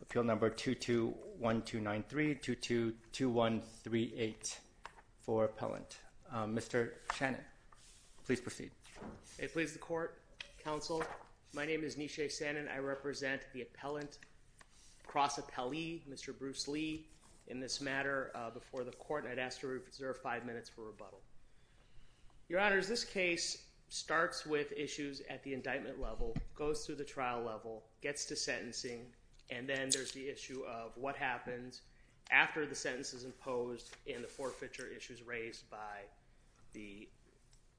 Appeal number 221293222138 for appellant. Mr. Shannon, please proceed. It pleases the court, counsel. My name is Nisheh Shannon. I represent the United States Court of Appeals. I represent the appellant, cross appellee, Mr. Bruce Lee, in this matter before the court, and I'd ask you to reserve five minutes for rebuttal. Your Honors, this case starts with issues at the indictment level, goes through the trial level, gets to sentencing, and then there's the issue of what happens after the sentence is imposed and the forfeiture issues raised by the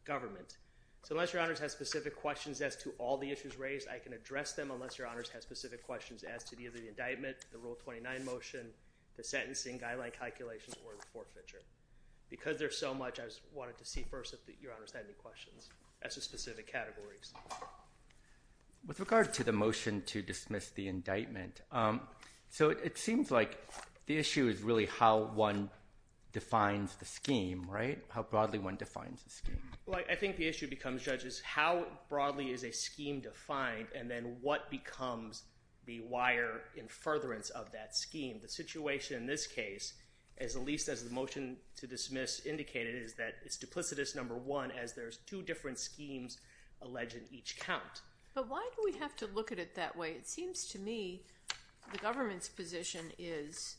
government. So unless Your Honors have specific questions as to all the issues raised, I can address them unless Your Honors have specific questions as to the indictment, the Rule 29 motion, the sentencing, guideline calculations, or the forfeiture. Because there's so much, I just wanted to see first if Your Honors had any questions as to specific categories. With regard to the motion to dismiss the indictment, so it seems like the issue is really how one defines the scheme, right? How broadly one is a scheme defined, and then what becomes the wire in furtherance of that scheme. The situation in this case, at least as the motion to dismiss indicated, is that it's duplicitous, number one, as there's two different schemes alleged in each count. But why do we have to look at it that way? It seems to me the government's position is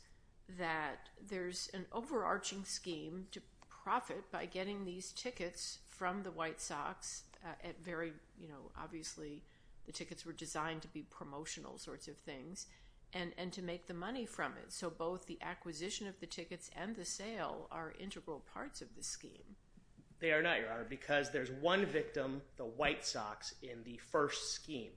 that there's an overarching scheme to profit by getting these tickets from the White Sox at very, obviously, the tickets were designed to be promotional sorts of things, and to make the money from it. So both the acquisition of the tickets and the sale are integral parts of the scheme. They are not, Your Honor, because there's one victim, the White Sox, in the first scheme.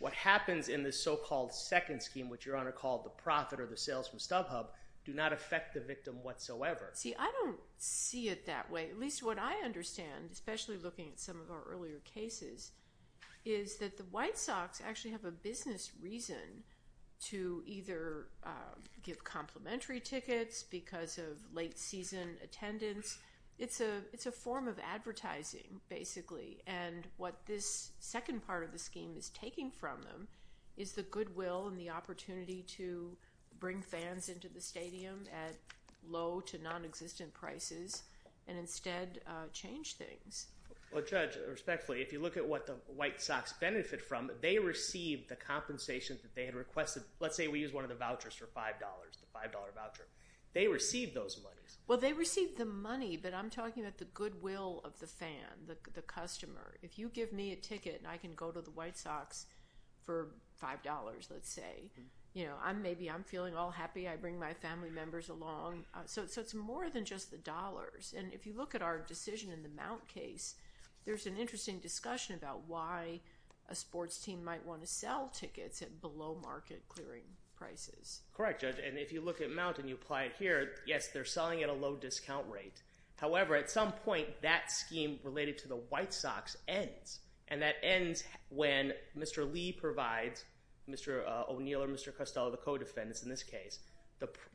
What happens in the so-called second scheme, which Your Honor called the profit or the sales from StubHub, do not affect the victim whatsoever. See, I don't see it that way. At least what I understand, especially looking at some of our earlier cases, is that the White Sox actually have a business reason to either give complimentary tickets because of late season attendance. It's a form of advertising, basically. And what this second part of the scheme is taking from them is the goodwill and the opportunity to bring to non-existent prices and instead change things. Well, Judge, respectfully, if you look at what the White Sox benefit from, they receive the compensation that they had requested. Let's say we use one of the vouchers for $5, the $5 voucher. They receive those monies. Well, they receive the money, but I'm talking about the goodwill of the fan, the customer. If you give me a ticket, I can go to the White Sox for $5, let's say. Maybe I'm feeling a little happy, I bring my family members along. So it's more than just the dollars. And if you look at our decision in the Mount case, there's an interesting discussion about why a sports team might want to sell tickets at below market clearing prices. Correct, Judge. And if you look at Mount and you apply it here, yes, they're selling at a low discount rate. However, at some point, that scheme related to the White Sox ends. And that ends when Mr. Lee provides, Mr. O'Neill or Mr. Costello, the co-defendants in this case,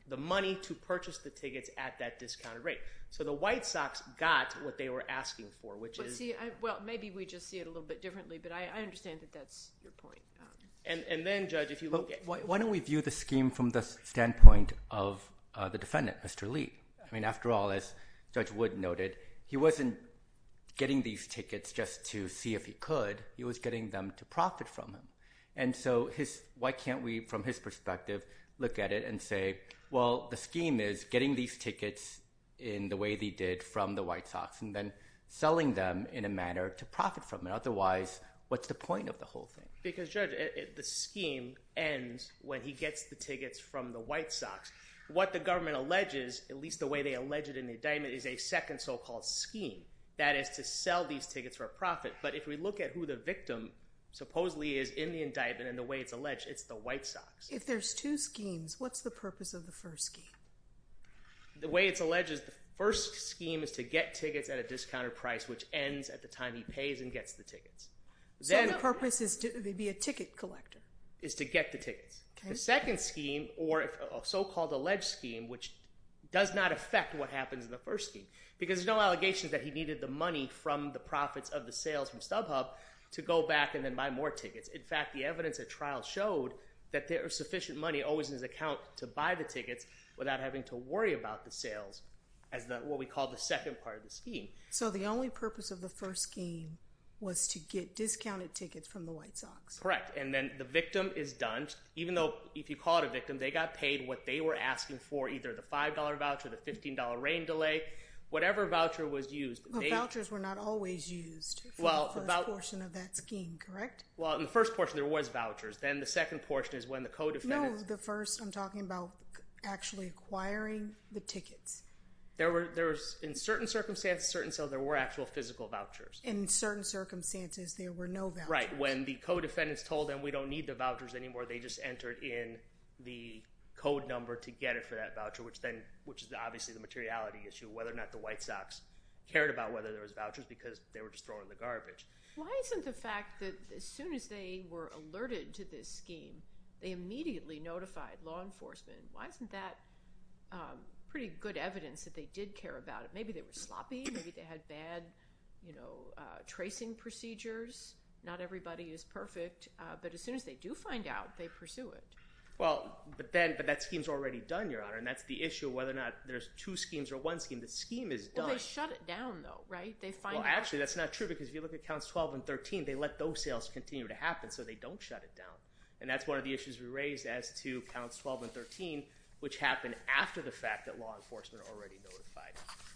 the money to purchase the tickets at that discounted rate. So the White Sox got what they were asking for, which is... Well, maybe we just see it a little bit differently, but I understand that that's your point. And then, Judge, if you look at... Why don't we view the scheme from the standpoint of the defendant, Mr. Lee? I mean, after all, as Judge Wood noted, he wasn't getting these tickets just to see if he could. He was getting them to profit from them. And so why can't we, from his perspective, look at it and say, well, the scheme is getting these tickets in the way they did from the White Sox and then selling them in a manner to profit from them. Otherwise, what's the point of the whole thing? Because, Judge, the scheme ends when he gets the tickets from the White Sox. What the government alleges, at least the way they allege it in the indictment, is a second so-called scheme. That is to sell these tickets for a profit. But if we look at who the victim supposedly is in the indictment and the way it's alleged, it's the White Sox. If there's two schemes, what's the purpose of the first scheme? The way it's alleged is the first scheme is to get tickets at a discounted price, which ends at the time he pays and gets the tickets. So the purpose is to be a ticket collector? The purpose of the first scheme is to get the tickets. The second scheme, or so-called alleged scheme, which does not affect what happens in the first scheme, because there's no allegations that he needed the money from the profits of the sales from StubHub to go back and then buy more tickets. In fact, the evidence at trial showed that there was sufficient money always in his account to buy the tickets without having to worry about the sales as what we call the second part of the scheme. So the only purpose of the first scheme was to get discounted tickets from the White Sox? Correct. And then the victim is done. Even though, if you call it a victim, they got paid what they were asking for, either the $5 voucher, the $15 rain delay, whatever voucher was used. But vouchers were not always used for the first portion of that scheme, correct? Well, in the first portion, there was vouchers. Then the second portion is when the co-defendant No, the first, I'm talking about actually acquiring the tickets. In certain circumstances, certain sales, there were actual physical vouchers. In certain circumstances, there were no vouchers. Right. When the co-defendants told them we don't need the vouchers anymore, they just entered in the code number to get it for that voucher, which is obviously the materiality issue, whether or not the White Sox cared about whether there was vouchers because they were just throwing the garbage. Why isn't the fact that as soon as they were alerted to this scheme, they immediately notified law enforcement? Why isn't that pretty good evidence that they did care about it? Maybe they were sloppy. Maybe they had bad tracing procedures. Not everybody is perfect. But as soon as they do find out, they pursue it. Well, but that scheme's already done, Your Honor, and that's the issue of whether or not there's two schemes or one scheme. The scheme is done. Well, they shut it down, though, right? They find out. Well, actually, that's not true because if you look at counts 12 and 13, they let those sales continue to happen, so they don't shut it down. And that's one of the issues we raised as to counts 12 and 13, which happened after the fact that law enforcement already notified.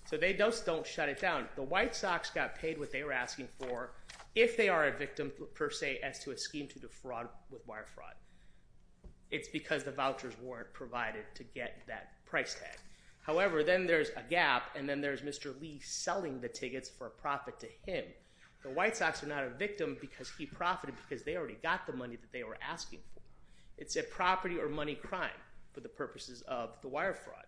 So they just don't shut it down. The White Sox got paid what they were asking for if they are a victim, per se, as to a scheme to defraud with wire fraud. It's because the vouchers weren't provided to get that price tag. However, then there's a gap, and then there's Mr. Lee selling the tickets for a profit to him. The White Sox are not a victim because he profited because they already got the money that they were asking for. It's a property or money crime for the purposes of the wire fraud,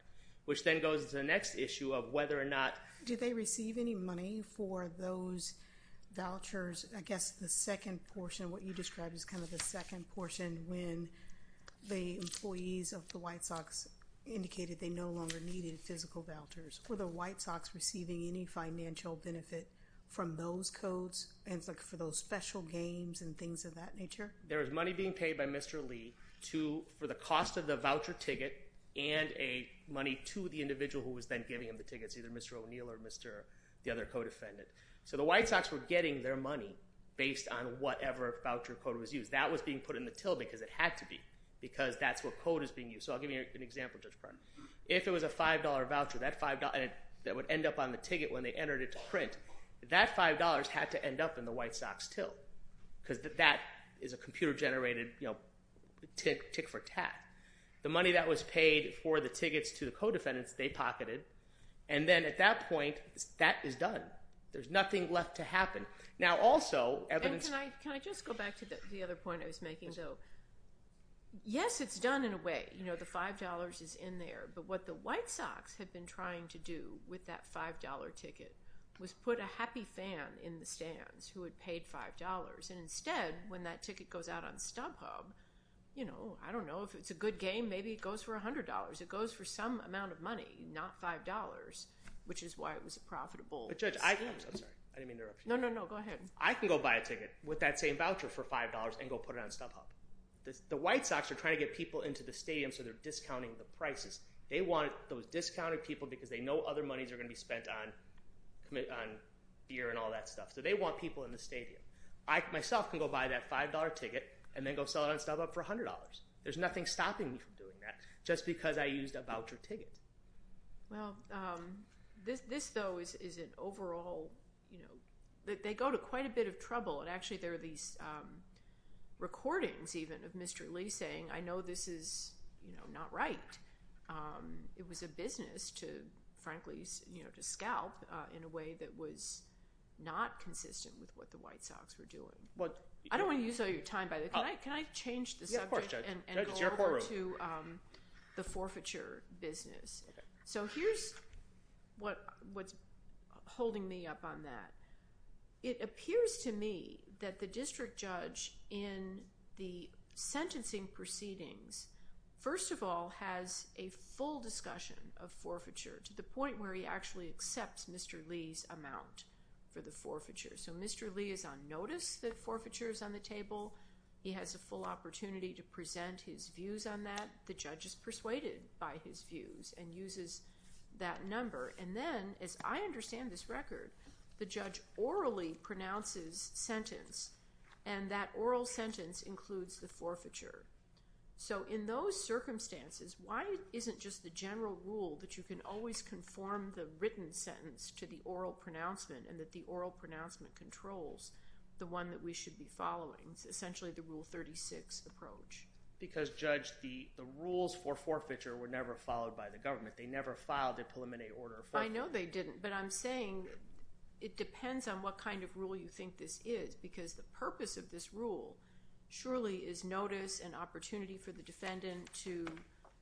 which then goes to the next issue of whether or not... Do they receive any money for those vouchers? I guess the second portion, what you described is kind of the second portion when the employees of the White Sox indicated they no longer needed physical vouchers. Were the White Sox receiving any financial benefit from those codes and for those special games and things of that nature? There was money being paid by Mr. Lee for the cost of the voucher ticket and money to the individual who was then giving him the tickets, either Mr. O'Neill or Mr.... the other codefendant. The White Sox were getting their money based on whatever voucher code was used. That was being put in the till because it had to be because that's what code is being used. I'll give you an example just in front. If it was a $5 voucher that would end up on the ticket when they entered it to print, that $5 had to end up in the White Sox till because that is a computer-generated tick for tack. The money that was paid for the tickets to the codefendants, they pocketed, and then at that point, that is done. There's nothing left to happen. Now also... Can I just go back to the other point I was making, though? Yes, it's done in a way. The $5 is in there, but what the White Sox had been trying to do with that $5 ticket was put a happy fan in the stands who had paid $5. Instead, when that ticket goes out on StubHub, I don't know. If it's a good game, maybe it goes for $100. It goes for some amount of money, not $5, which is why it was a profitable... Judge, I... I'm sorry. I didn't mean to interrupt you. No, no, no. Go ahead. I can go buy a ticket with that same voucher for $5 and go put it on StubHub. The White Sox are trying to get people into the stadium so they're discounting the prices. They want those discounted people because they know other monies are going to be spent on beer and all that stuff. They want people in the stadium. I, myself, can go buy that $5 ticket and then go sell it on StubHub for $100. There's nothing stopping me from doing that just because I used a voucher ticket. Well, this, though, is an overall... they go to quite a bit of trouble. Actually, there are these recordings even of Mr. Lee saying, I know this is not right. It was a business to, frankly, to scalp in a way that was not consistent with what the White Sox were doing. I don't want to use all your time, by the way. Can I change the subject and go over to the forfeiture business? Here's what's holding me up on that. It appears to me that the district judge in the sentencing proceedings, first of all, has a full discussion of forfeiture to the point where he actually accepts Mr. Lee's amount for the forfeiture. Mr. Lee is on notice that forfeiture is on the table. He has a full opportunity to present his views on that. The judge is persuaded by his views and uses that number. Then, as I understand this record, the judge orally pronounces sentence, and that oral sentence includes the forfeiture. In those circumstances, why isn't just the general rule that you can always conform the written sentence to the oral pronouncement, and that the oral pronouncement controls the one that we should be following, essentially the Rule 36 approach? Because, Judge, the rules for forfeiture were never followed by the government. They never filed a preliminary order for it. I know they didn't, but I'm saying it depends on what kind of rule you think this is because the purpose of this rule surely is notice and opportunity for the defendant to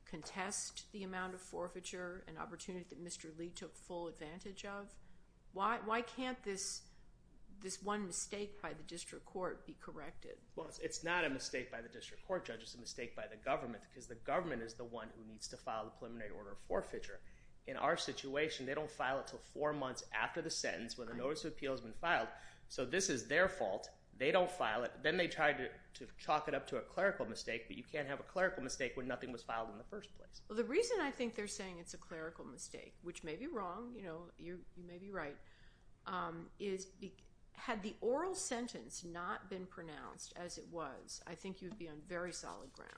contest the amount of forfeiture and opportunity that Mr. Lee took full advantage of. Why can't this one mistake by the district court be corrected? Well, it's not a mistake by the district court, Judge. It's a mistake by the government because the government is the one who needs to file the preliminary order of forfeiture. In our situation, they don't file it until four months after the sentence when the notice of appeal has been filed. So this is their fault. They don't file it. Then they try to chalk it up to a clerical mistake, but you can't have a clerical mistake when nothing was filed in the first place. Well, the reason I think they're saying it's a clerical mistake, which may be wrong, you may be right, is had the oral sentence not been pronounced as it was, I think you'd be on very solid ground.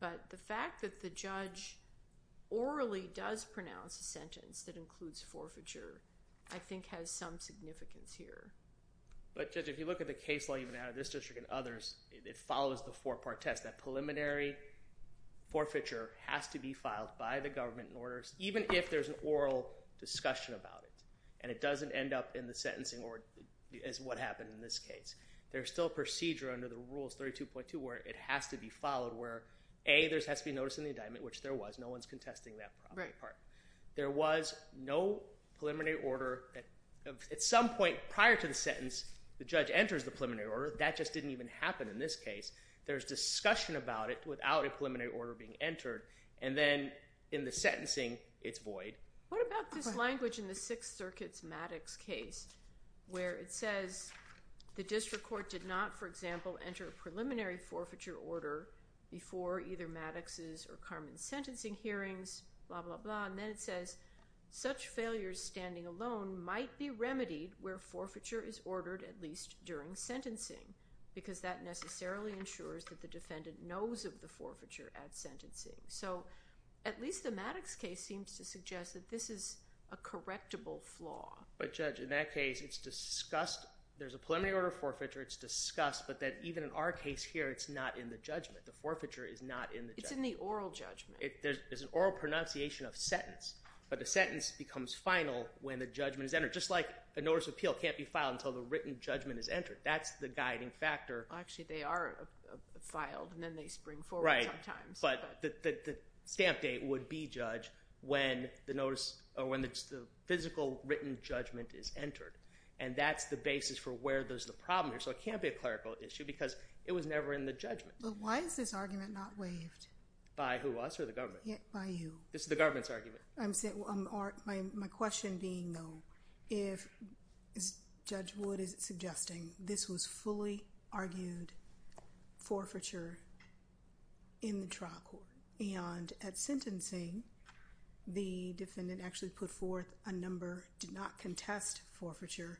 But the fact that the judge orally does pronounce a sentence that includes forfeiture I think has some significance here. But, Judge, if you look at the case law you've been out of this district and others, it follows the four-part test. That preliminary forfeiture has to be filed by the government in order, even if there's an oral discussion about it, and it doesn't end up in the sentencing as what happened in this case. There's still procedure under the Rules 32.2 where it has to be followed, where A, there has to be notice in the indictment, which there was. No one's contesting that part. There was no preliminary order. At some point prior to the sentence, the judge enters the preliminary order. That just didn't even happen in this case. There's discussion about it without a preliminary order being entered, and then in the sentencing it's void. What about this language in the Sixth Circuit's Maddox case where it says, the district court did not, for example, enter a preliminary forfeiture order before either Maddox's or Carmen's sentencing hearings, blah, blah, blah, and then it says, such failures standing alone might be remedied where forfeiture is ordered at least during sentencing because that necessarily ensures that the defendant knows of the forfeiture at sentencing. So at least the Maddox case seems to suggest that this is a correctable flaw. But Judge, in that case, it's discussed. There's a preliminary order of forfeiture. It's discussed, but then even in our case here, it's not in the judgment. The forfeiture is not in the judgment. It's in the oral judgment. There's an oral pronunciation of sentence, but the sentence becomes final when the judgment is entered. Just like a notice of appeal can't be filed until the written judgment is entered. That's the guiding factor. Actually, they are filed, and then they spring forward sometimes. Right, but the stamp date would be judged when the notice or when the physical written judgment is entered, and that's the basis for where there's the problem here. So it can't be a clerical issue because it was never in the judgment. But why is this argument not waived? By who, us or the government? By you. It's the government's argument. My question being, though, if, as Judge Wood is suggesting, this was fully argued forfeiture in the trial. And at sentencing, the defendant actually put forth a number, did not contest forfeiture,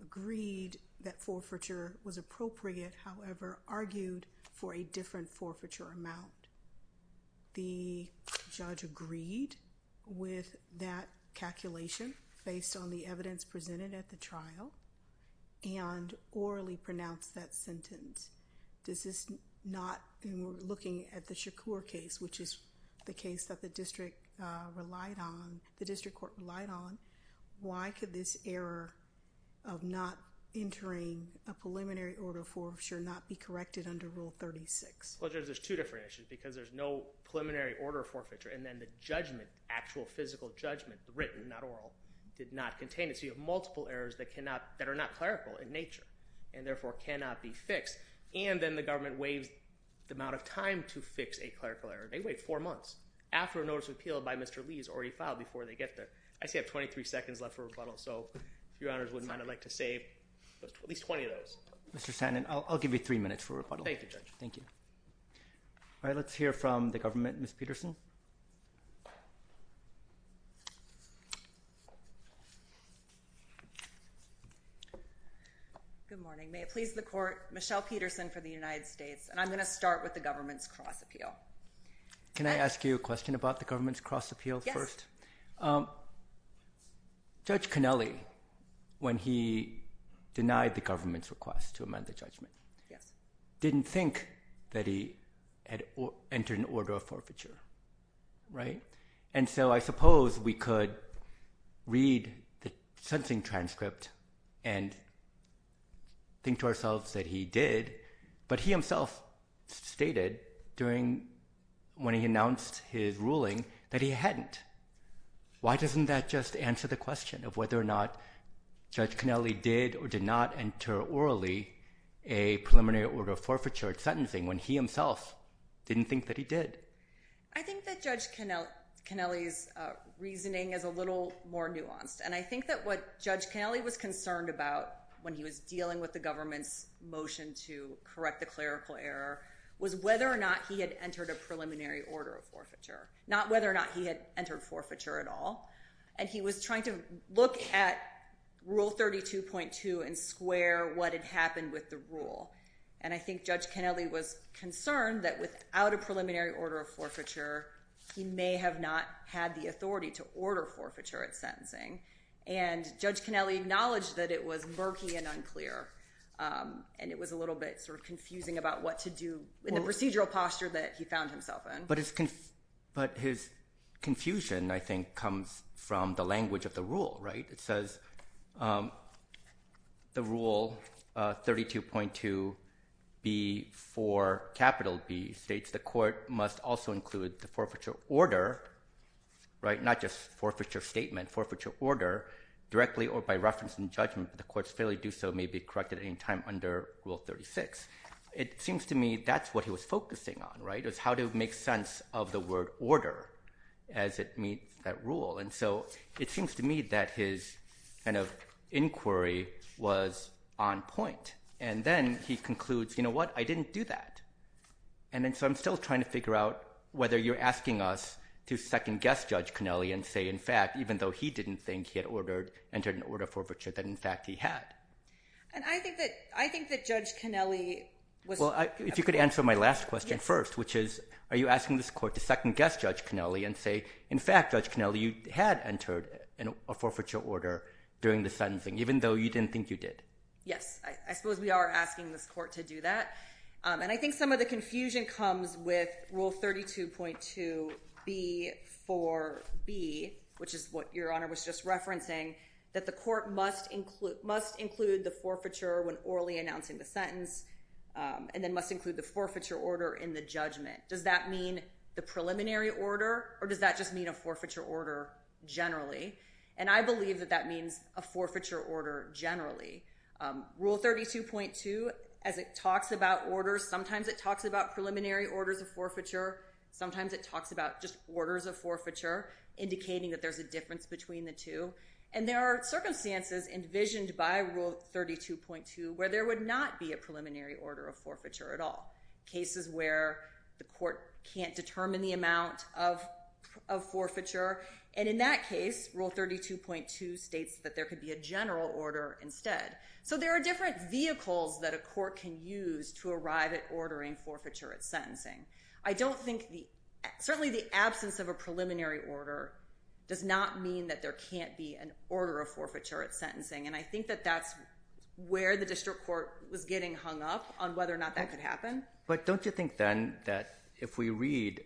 agreed that forfeiture was appropriate, however, argued for a different forfeiture amount. The judge agreed with that calculation based on the evidence presented at the trial and orally pronounced that sentence. This is not looking at the Shakur case, which is the case that the district court relied on. Why could this error of not entering a preliminary order forfeiture not be corrected under Rule 36? Well, Judge, there's two different issues because there's no preliminary order forfeiture. And then the judgment, actual physical judgment, written, not oral, did not contain it. So you have multiple errors that are not clerical in nature and therefore cannot be fixed. And then the government waives the amount of time to fix a clerical error. They wait four months after a notice of appeal by Mr. Lee is already filed before they get there. I see I have 23 seconds left for rebuttal, so if Your Honors wouldn't mind, I'd like to save at least 20 of those. Mr. Sandin, I'll give you three minutes for rebuttal. Thank you, Judge. Thank you. All right, let's hear from the government. Ms. Peterson. Good morning. May it please the Court, Michelle Peterson for the United States, and I'm going to start with the government's cross appeal. Can I ask you a question about the government's cross appeal first? Judge Connelly, when he denied the government's request to amend the judgment, didn't think that he had entered an order of forfeiture, right? And so I suppose we could read the sentencing transcript and think to ourselves that he did, but he himself stated during when he announced his ruling that he hadn't. Why doesn't that just answer the question of whether or not Judge Connelly did or did not enter orally a preliminary order of forfeiture at sentencing when he himself didn't think that he did? I think that Judge Connelly's reasoning is a little more nuanced, and I think that what Judge Connelly was concerned about when he was dealing with the government's motion to correct the clerical error was whether or not he had entered a preliminary order of forfeiture, not whether or not he had entered forfeiture at all. And he was trying to look at Rule 32.2 and square what had happened with the rule. And I think Judge Connelly was concerned that without a preliminary order of forfeiture, he may have not had the authority to order forfeiture at sentencing. And Judge Connelly acknowledged that it was murky and unclear, and it was a little bit sort of confusing about what to do in the procedural posture that he found himself in. But his confusion, I think, comes from the language of the rule. It says the Rule 32.2B4B states the court must also include the forfeiture order, not just forfeiture statement, forfeiture order, directly or by reference in judgment if the court's failure to do so may be corrected at any time under Rule 36. It seems to me that's what he was focusing on, was how to make sense of the word order as it meets that rule. And so it seems to me that his inquiry was on point. And then he concludes, you know what, I didn't do that. And so I'm still trying to figure out whether you're asking us to second-guess Judge Connelly and say, in fact, even though he didn't think he had entered an order of forfeiture, that in fact he had. And I think that Judge Connelly was... Well, if you could answer my last question first, which is, are you asking this court to second-guess Judge Connelly and say, in fact, Judge Connelly, you had entered a forfeiture order during the sentencing, even though you didn't think you did? Yes, I suppose we are asking this court to do that. And I think some of the confusion comes with Rule 32.2B4B, which is what Your Honor was just referencing, when orally announcing the sentence. And then must include the forfeiture order in the judgment. Does that mean the preliminary order, or does that just mean a forfeiture order generally? And I believe that that means a forfeiture order generally. Rule 32.2, as it talks about orders, sometimes it talks about preliminary orders of forfeiture, sometimes it talks about just orders of forfeiture, indicating that there's a difference between the two. And there are circumstances envisioned by Rule 32.2 where there would not be a preliminary order of forfeiture at all. Cases where the court can't determine the amount of forfeiture. And in that case, Rule 32.2 states that there could be a general order instead. So there are different vehicles that a court can use to arrive at ordering forfeiture at sentencing. I don't think the... Certainly the absence of a preliminary order does not mean that there can't be an order of forfeiture at sentencing. And I think that that's where the district court was getting hung up on whether or not that could happen. But don't you think then that if we read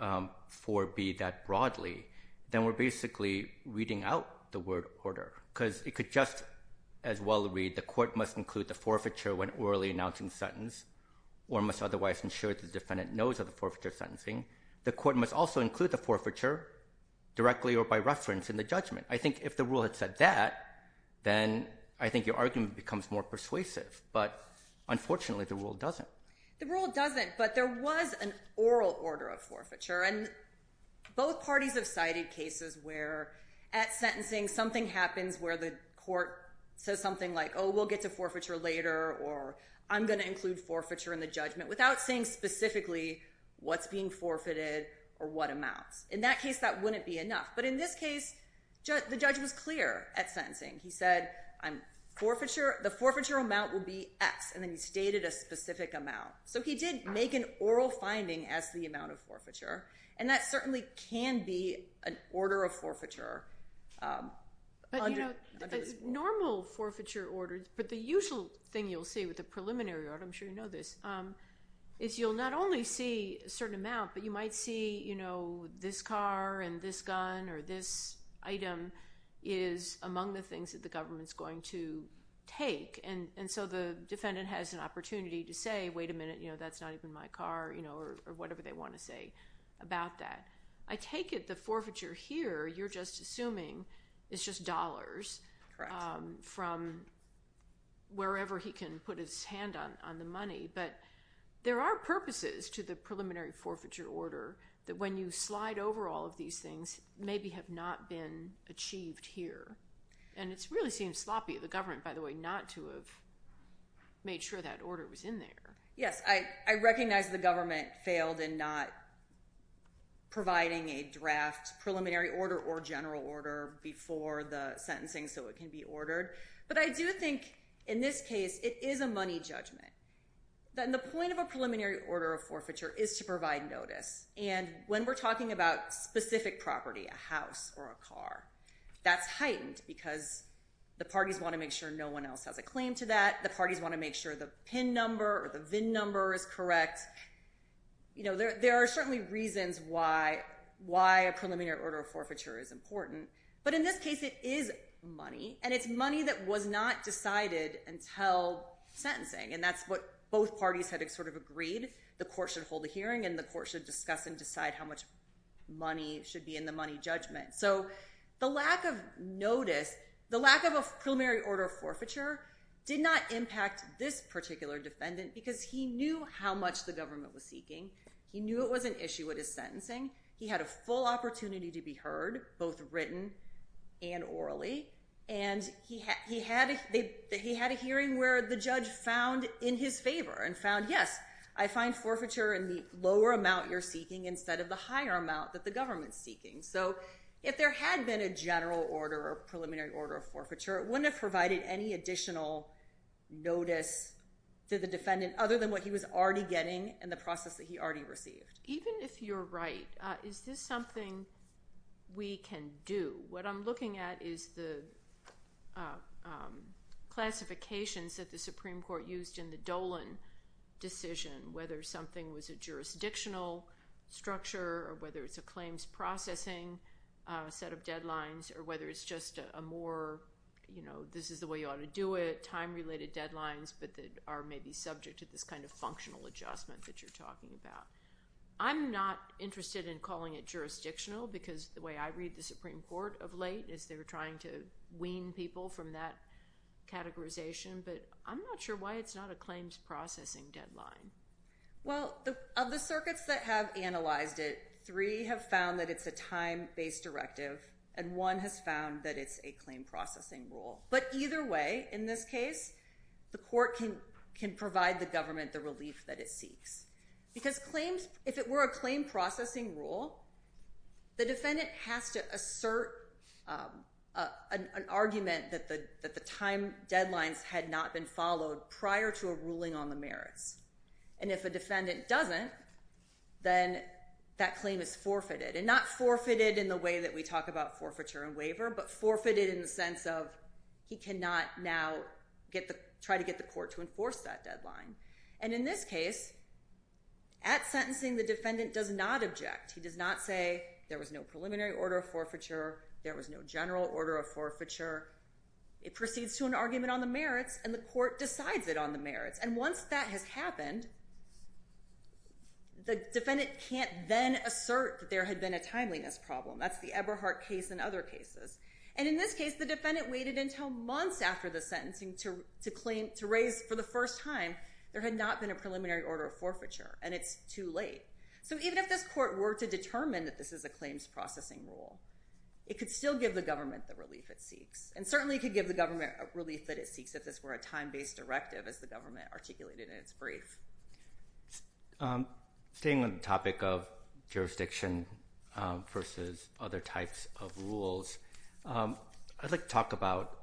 4B that broadly, then we're basically reading out the word order? Because it could just as well read, the court must include the forfeiture when orally announcing sentence or must otherwise ensure the defendant knows of the forfeiture sentencing. The court must also include the forfeiture directly or by reference in the judgment. I think if the rule had said that, then I think your argument becomes more persuasive. But unfortunately, the rule doesn't. The rule doesn't, but there was an oral order of forfeiture. And both parties have cited cases where at sentencing, something happens where the court says something like, oh, we'll get to forfeiture later or I'm going to include forfeiture in the judgment without saying specifically what's being forfeited or what amounts. In that case, that wouldn't be enough. But in this case, the judge was clear at sentencing. He said the forfeiture amount will be X, and then he stated a specific amount. So he did make an oral finding as the amount of forfeiture, and that certainly can be an order of forfeiture. But normal forfeiture order, but the usual thing you'll see with the preliminary order, I'm sure you know this, is you'll not only see a certain amount, but you might see, you know, this car and this gun or this item is among the things that the government's going to take. And so the defendant has an opportunity to say, wait a minute, you know, that's not even my car, you know, or whatever they want to say about that. I take it the forfeiture here you're just assuming is just dollars from wherever he can put his hand on the money. But there are purposes to the preliminary forfeiture order that when you slide over all of these things, maybe have not been achieved here. And it really seems sloppy of the government, by the way, not to have made sure that order was in there. Yes, I recognize the government failed in not providing a draft preliminary order or general order before the sentencing so it can be ordered. But I do think in this case it is a money judgment. The point of a preliminary order of forfeiture is to provide notice. And when we're talking about specific property, a house or a car, that's heightened because the parties want to make sure no one else has a claim to that. The parties want to make sure the PIN number or the VIN number is correct. You know, there are certainly reasons why a preliminary order of forfeiture is important. But in this case it is money. And it's money that was not decided until sentencing. And that's what both parties had sort of agreed. The court should hold a hearing and the court should discuss and decide how much money should be in the money judgment. So the lack of notice, the lack of a preliminary order of forfeiture did not impact this particular defendant because he knew how much the government was seeking. He knew it was an issue with his sentencing. He had a full opportunity to be heard, both written and orally. And he had a hearing where the judge found in his favor and found, yes, I find forfeiture in the lower amount you're seeking instead of the higher amount that the government's seeking. So if there had been a general order or a preliminary order of forfeiture, it wouldn't have provided any additional notice to the defendant other than what he was already getting and the process that he already received. Even if you're right, is this something we can do? What I'm looking at is the classifications that the Supreme Court used in the Dolan decision, whether something was a jurisdictional structure or whether it's a claims processing set of deadlines or whether it's just a more, you know, this is the way you ought to do it, time-related deadlines but that are maybe subject to this kind of functional adjustment that you're talking about. I'm not interested in calling it jurisdictional because the way I read the Supreme Court of late is they're trying to wean people from that categorization, but I'm not sure why it's not a claims processing deadline. Well, of the circuits that have analyzed it, three have found that it's a time-based directive and one has found that it's a claim processing rule. But either way, in this case, the court can provide the government the relief that it seeks because if it were a claim processing rule, the defendant has to assert an argument that the time deadlines had not been followed prior to a ruling on the merits. And if a defendant doesn't, then that claim is forfeited and not forfeited in the way that we talk about forfeiture and waiver but forfeited in the sense of he cannot now try to get the court to enforce that deadline. And in this case, at sentencing, the defendant does not object. He does not say there was no preliminary order of forfeiture, there was no general order of forfeiture. It proceeds to an argument on the merits and the court decides it on the merits. And once that has happened, the defendant can't then assert that there had been a timeliness problem. That's the Eberhardt case and other cases. And in this case, the defendant waited until months after the sentencing to raise for the first time there had not been a preliminary order of forfeiture, and it's too late. So even if this court were to determine that this is a claims processing rule, it could still give the government the relief it seeks. And certainly it could give the government a relief that it seeks if this were a time-based directive as the government articulated in its brief. Staying on the topic of jurisdiction versus other types of rules, I'd like to talk about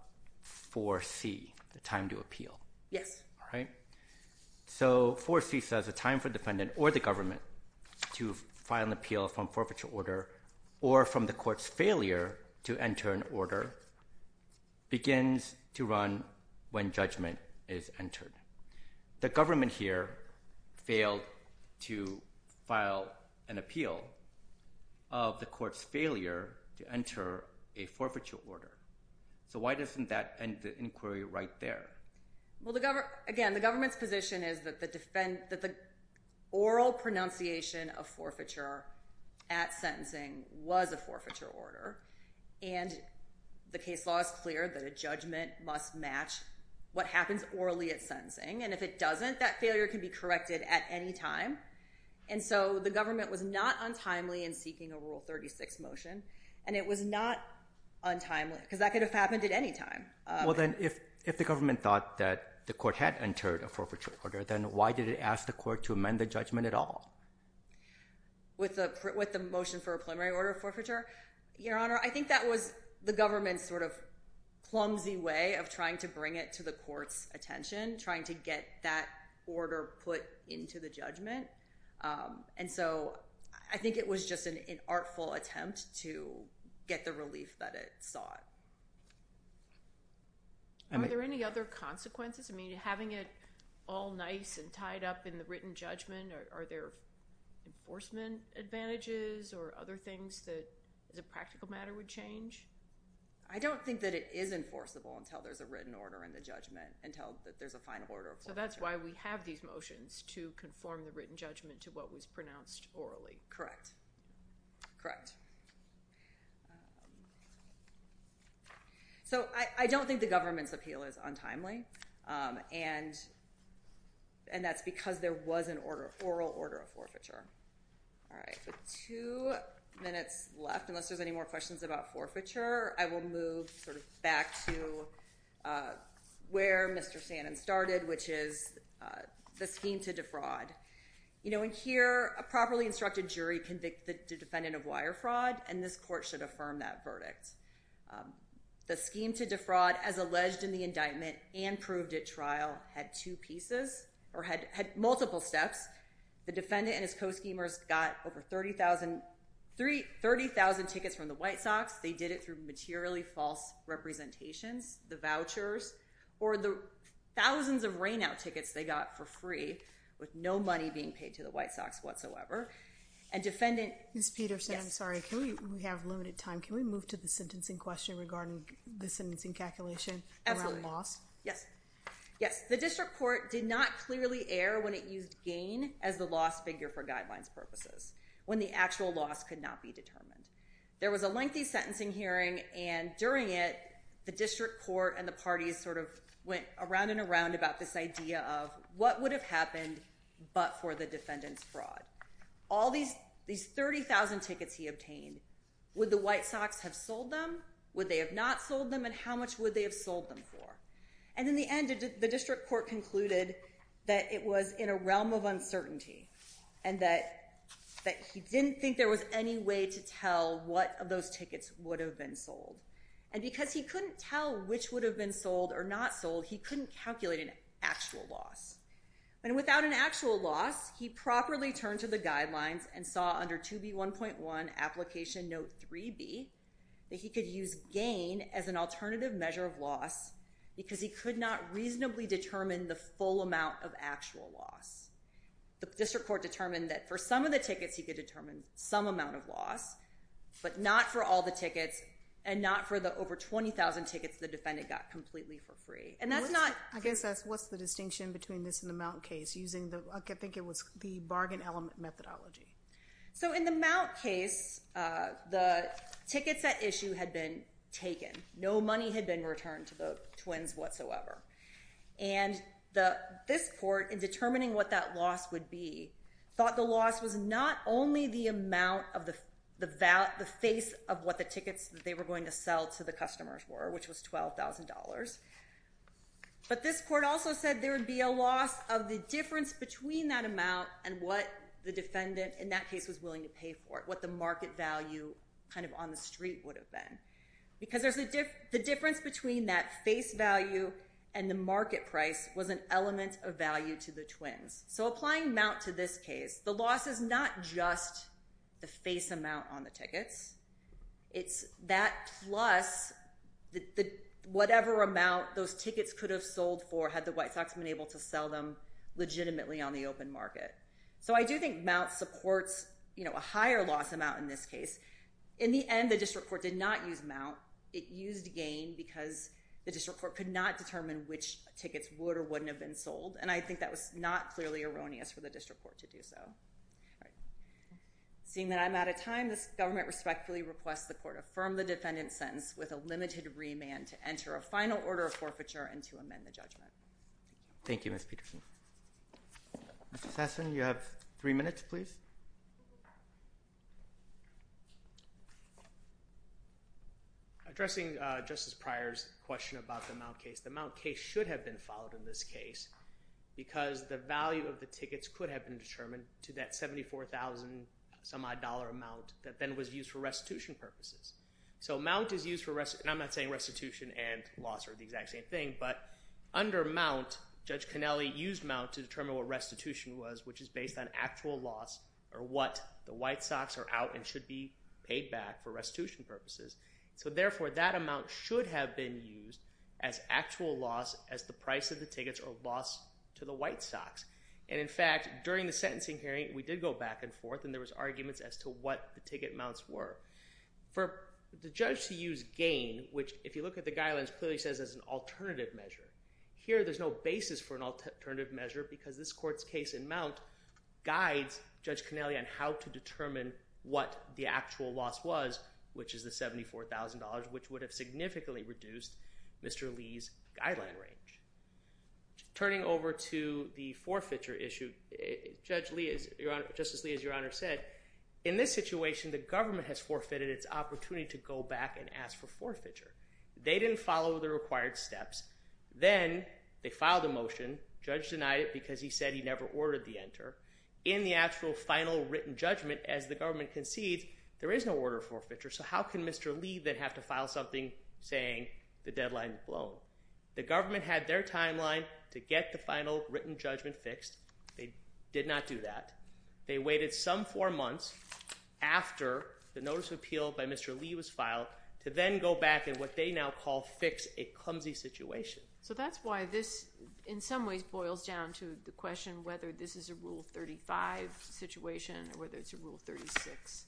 4C, the time to appeal. Yes. So 4C says the time for the defendant or the government to file an appeal from forfeiture order or from the court's failure to enter an order begins to run when judgment is entered. The government here failed to file an appeal of the court's failure to enter a forfeiture order. So why doesn't that end the inquiry right there? Well, again, the government's position is that the oral pronunciation of forfeiture at sentencing was a forfeiture order, and the case law is clear that a judgment must match what happens orally at sentencing. And if it doesn't, that failure can be corrected at any time. And so the government was not untimely in seeking a Rule 36 motion, and it was not untimely because that could have happened at any time. Well, then, if the government thought that the court had entered a forfeiture order, then why did it ask the court to amend the judgment at all? With the motion for a preliminary order of forfeiture? Your Honor, I think that was the government's sort of clumsy way of trying to bring it to the court's attention, trying to get that order put into the judgment. And so I think it was just an artful attempt to get the relief that it sought. Are there any other consequences? I mean, having it all nice and tied up in the written judgment, are there enforcement advantages or other things that, as a practical matter, would change? I don't think that it is enforceable until there's a written order in the judgment, until there's a final order of forfeiture. So that's why we have these motions, to conform the written judgment to what was pronounced orally. Correct. Correct. So I don't think the government's appeal is untimely, and that's because there was an oral order of forfeiture. All right, with two minutes left, unless there's any more questions about forfeiture, I will move sort of back to where Mr. Sanan started, which is the scheme to defraud. You know, in here, a properly instructed jury convicted the defendant of wire fraud, and this court should affirm that verdict. The scheme to defraud, as alleged in the indictment and proved at trial, had two pieces, or had multiple steps. The defendant and his co-schemers got over 30,000 tickets from the White Sox. They did it through materially false representations, the vouchers, or the thousands of rainout tickets they got for free, with no money being paid to the White Sox whatsoever. And defendant... Ms. Peterson, I'm sorry, we have limited time. Can we move to the sentencing question regarding the sentencing calculation around loss? Absolutely. Yes. Yes. The district court did not clearly err when it used gain as the loss figure for guidelines purposes, when the actual loss could not be determined. There was a lengthy sentencing hearing, and during it, the district court and the parties sort of went around and around about this idea of what would have happened but for the defendant's fraud. All these 30,000 tickets he obtained, would the White Sox have sold them? Would they have not sold them? And how much would they have sold them for? And in the end, the district court concluded that it was in a realm of uncertainty, and that he didn't think there was any way to tell what of those tickets would have been sold. And because he couldn't tell which would have been sold or not sold, he couldn't calculate an actual loss. And without an actual loss, he properly turned to the guidelines and saw under 2B1.1, application note 3B, that he could use gain as an alternative measure of loss because he could not reasonably determine the full amount of actual loss. The district court determined that for some of the tickets, he could determine some amount of loss, but not for all the tickets, and not for the over 20,000 tickets the defendant got completely for free. And that's not- I guess that's what's the distinction between this and the Mount case, using the, I think it was the bargain element methodology. So in the Mount case, the tickets at issue had been taken. No money had been returned to the twins whatsoever. And this court, in determining what that loss would be, thought the loss was not only the amount of the- the face of what the tickets that they were going to sell to the customers were, which was $12,000, but this court also said there would be a loss of the difference between that amount and what the defendant, in that case, was willing to pay for it, what the market value kind of on the street would have been. Because the difference between that face value and the market price was an element of value to the twins. So applying Mount to this case, the loss is not just the face amount on the tickets, it's that plus whatever amount those tickets could have sold for had the White Sox been able to sell them legitimately on the open market. So I do think Mount supports, you know, a higher loss amount in this case. In the end, the district court did not use Mount. It used Gain because the district court could not determine which tickets would or wouldn't have been sold. And I think that was not clearly erroneous for the district court to do so. All right. Seeing that I'm out of time, this government respectfully requests the court affirm the defendant's sentence with a limited remand to enter a final order of forfeiture and to amend the judgment. Thank you, Ms. Peterson. Mr. Sassen, you have three minutes, please. Addressing Justice Pryor's question about the Mount case, the Mount case should have been followed in this case because the value of the tickets could have been determined to that $74,000-some-odd amount that then was used for restitution purposes. So Mount is used for restitution, and I'm not saying restitution and loss are the exact same thing, but under Mount, Judge Connelly used Mount to determine what restitution was, which is based on actual loss or what the White Sox are out and should be paid back for restitution purposes. So therefore, that amount should have been used as actual loss as the price of the tickets or loss to the White Sox. And in fact, during the sentencing hearing, we did go back and forth, and there was arguments as to what the ticket mounts were. For the judge to use gain, which if you look at the guidelines, clearly says it's an alternative measure. Here, there's no basis for an alternative measure because this court's case in Mount guides Judge Connelly on how to determine what the actual loss was, which is the $74,000, which would have significantly reduced Mr. Lee's guideline range. Turning over to the forfeiture issue, Justice Lee, as Your Honor said, in this situation, the government has forfeited its opportunity to go back and ask for forfeiture. They didn't follow the required steps. Then they filed a motion. Judge denied it because he said he never ordered the enter. In the actual final written judgment, as the government concedes, there is no order forfeiture, so how can Mr. Lee then have to file something saying the deadline is blown? The government had their timeline to get the final written judgment fixed. They did not do that. They waited some four months after the notice of appeal by Mr. Lee was filed to then go back in what they now call fix a clumsy situation. So that's why this, in some ways, boils down to the question whether this is a Rule 35 situation or whether it's a Rule 36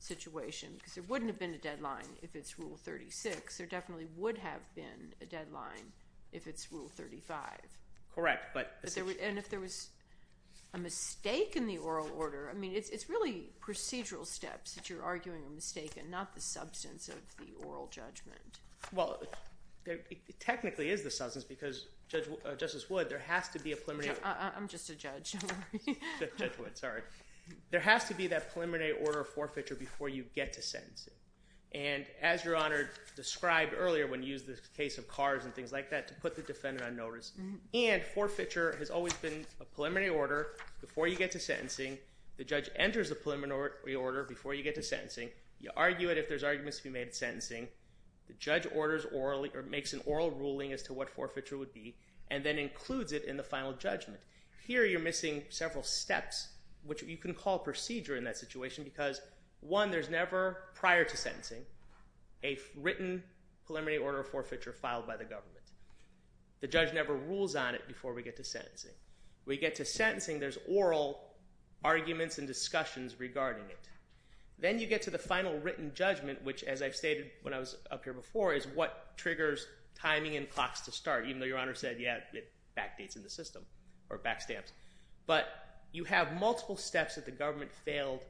situation because there wouldn't have been a deadline if it's Rule 36. There definitely would have been a deadline if it's Rule 35. Correct. And if there was a mistake in the oral order, I mean, it's really procedural steps that you're arguing a mistake and not the substance of the oral judgment. Well, it technically is the substance because, Justice Wood, there has to be a preliminary... I'm just a judge. Judge Wood, sorry. There has to be that preliminary order forfeiture before you get to sentencing. And as Your Honor described earlier when you used the case of cars and things like that to put the defendant on notice, and forfeiture has always been a preliminary order before you get to sentencing. The judge enters the preliminary order before you get to sentencing. You argue it if there's arguments to be made at sentencing. The judge orders or makes an oral ruling as to what forfeiture would be and then includes it in the final judgment. Here, you're missing several steps, which you can call procedure in that situation because, one, there's never, prior to sentencing, a written preliminary order forfeiture filed by the government. The judge never rules on it before we get to sentencing. When you get to sentencing, there's oral arguments and discussions regarding it. Then you get to the final written judgment, which, as I've stated when I was up here before, is what triggers timing and clocks to start, even though Your Honor said, yeah, it backdates in the system or backstamps. But you have multiple steps that the government failed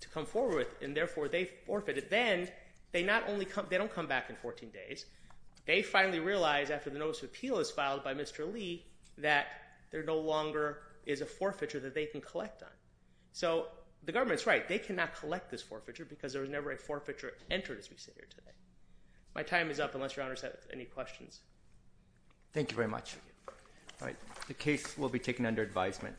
to come forward with, and therefore they forfeited. Then they don't come back in 14 days. They finally realize after the notice of appeal is filed by Mr. Lee that there no longer is a forfeiture that they can collect on. So the government's right. They cannot collect this forfeiture because there was never a forfeiture entered, as we sit here today. My time is up, unless Your Honor has any questions. Thank you very much. The case will be taken under advisement.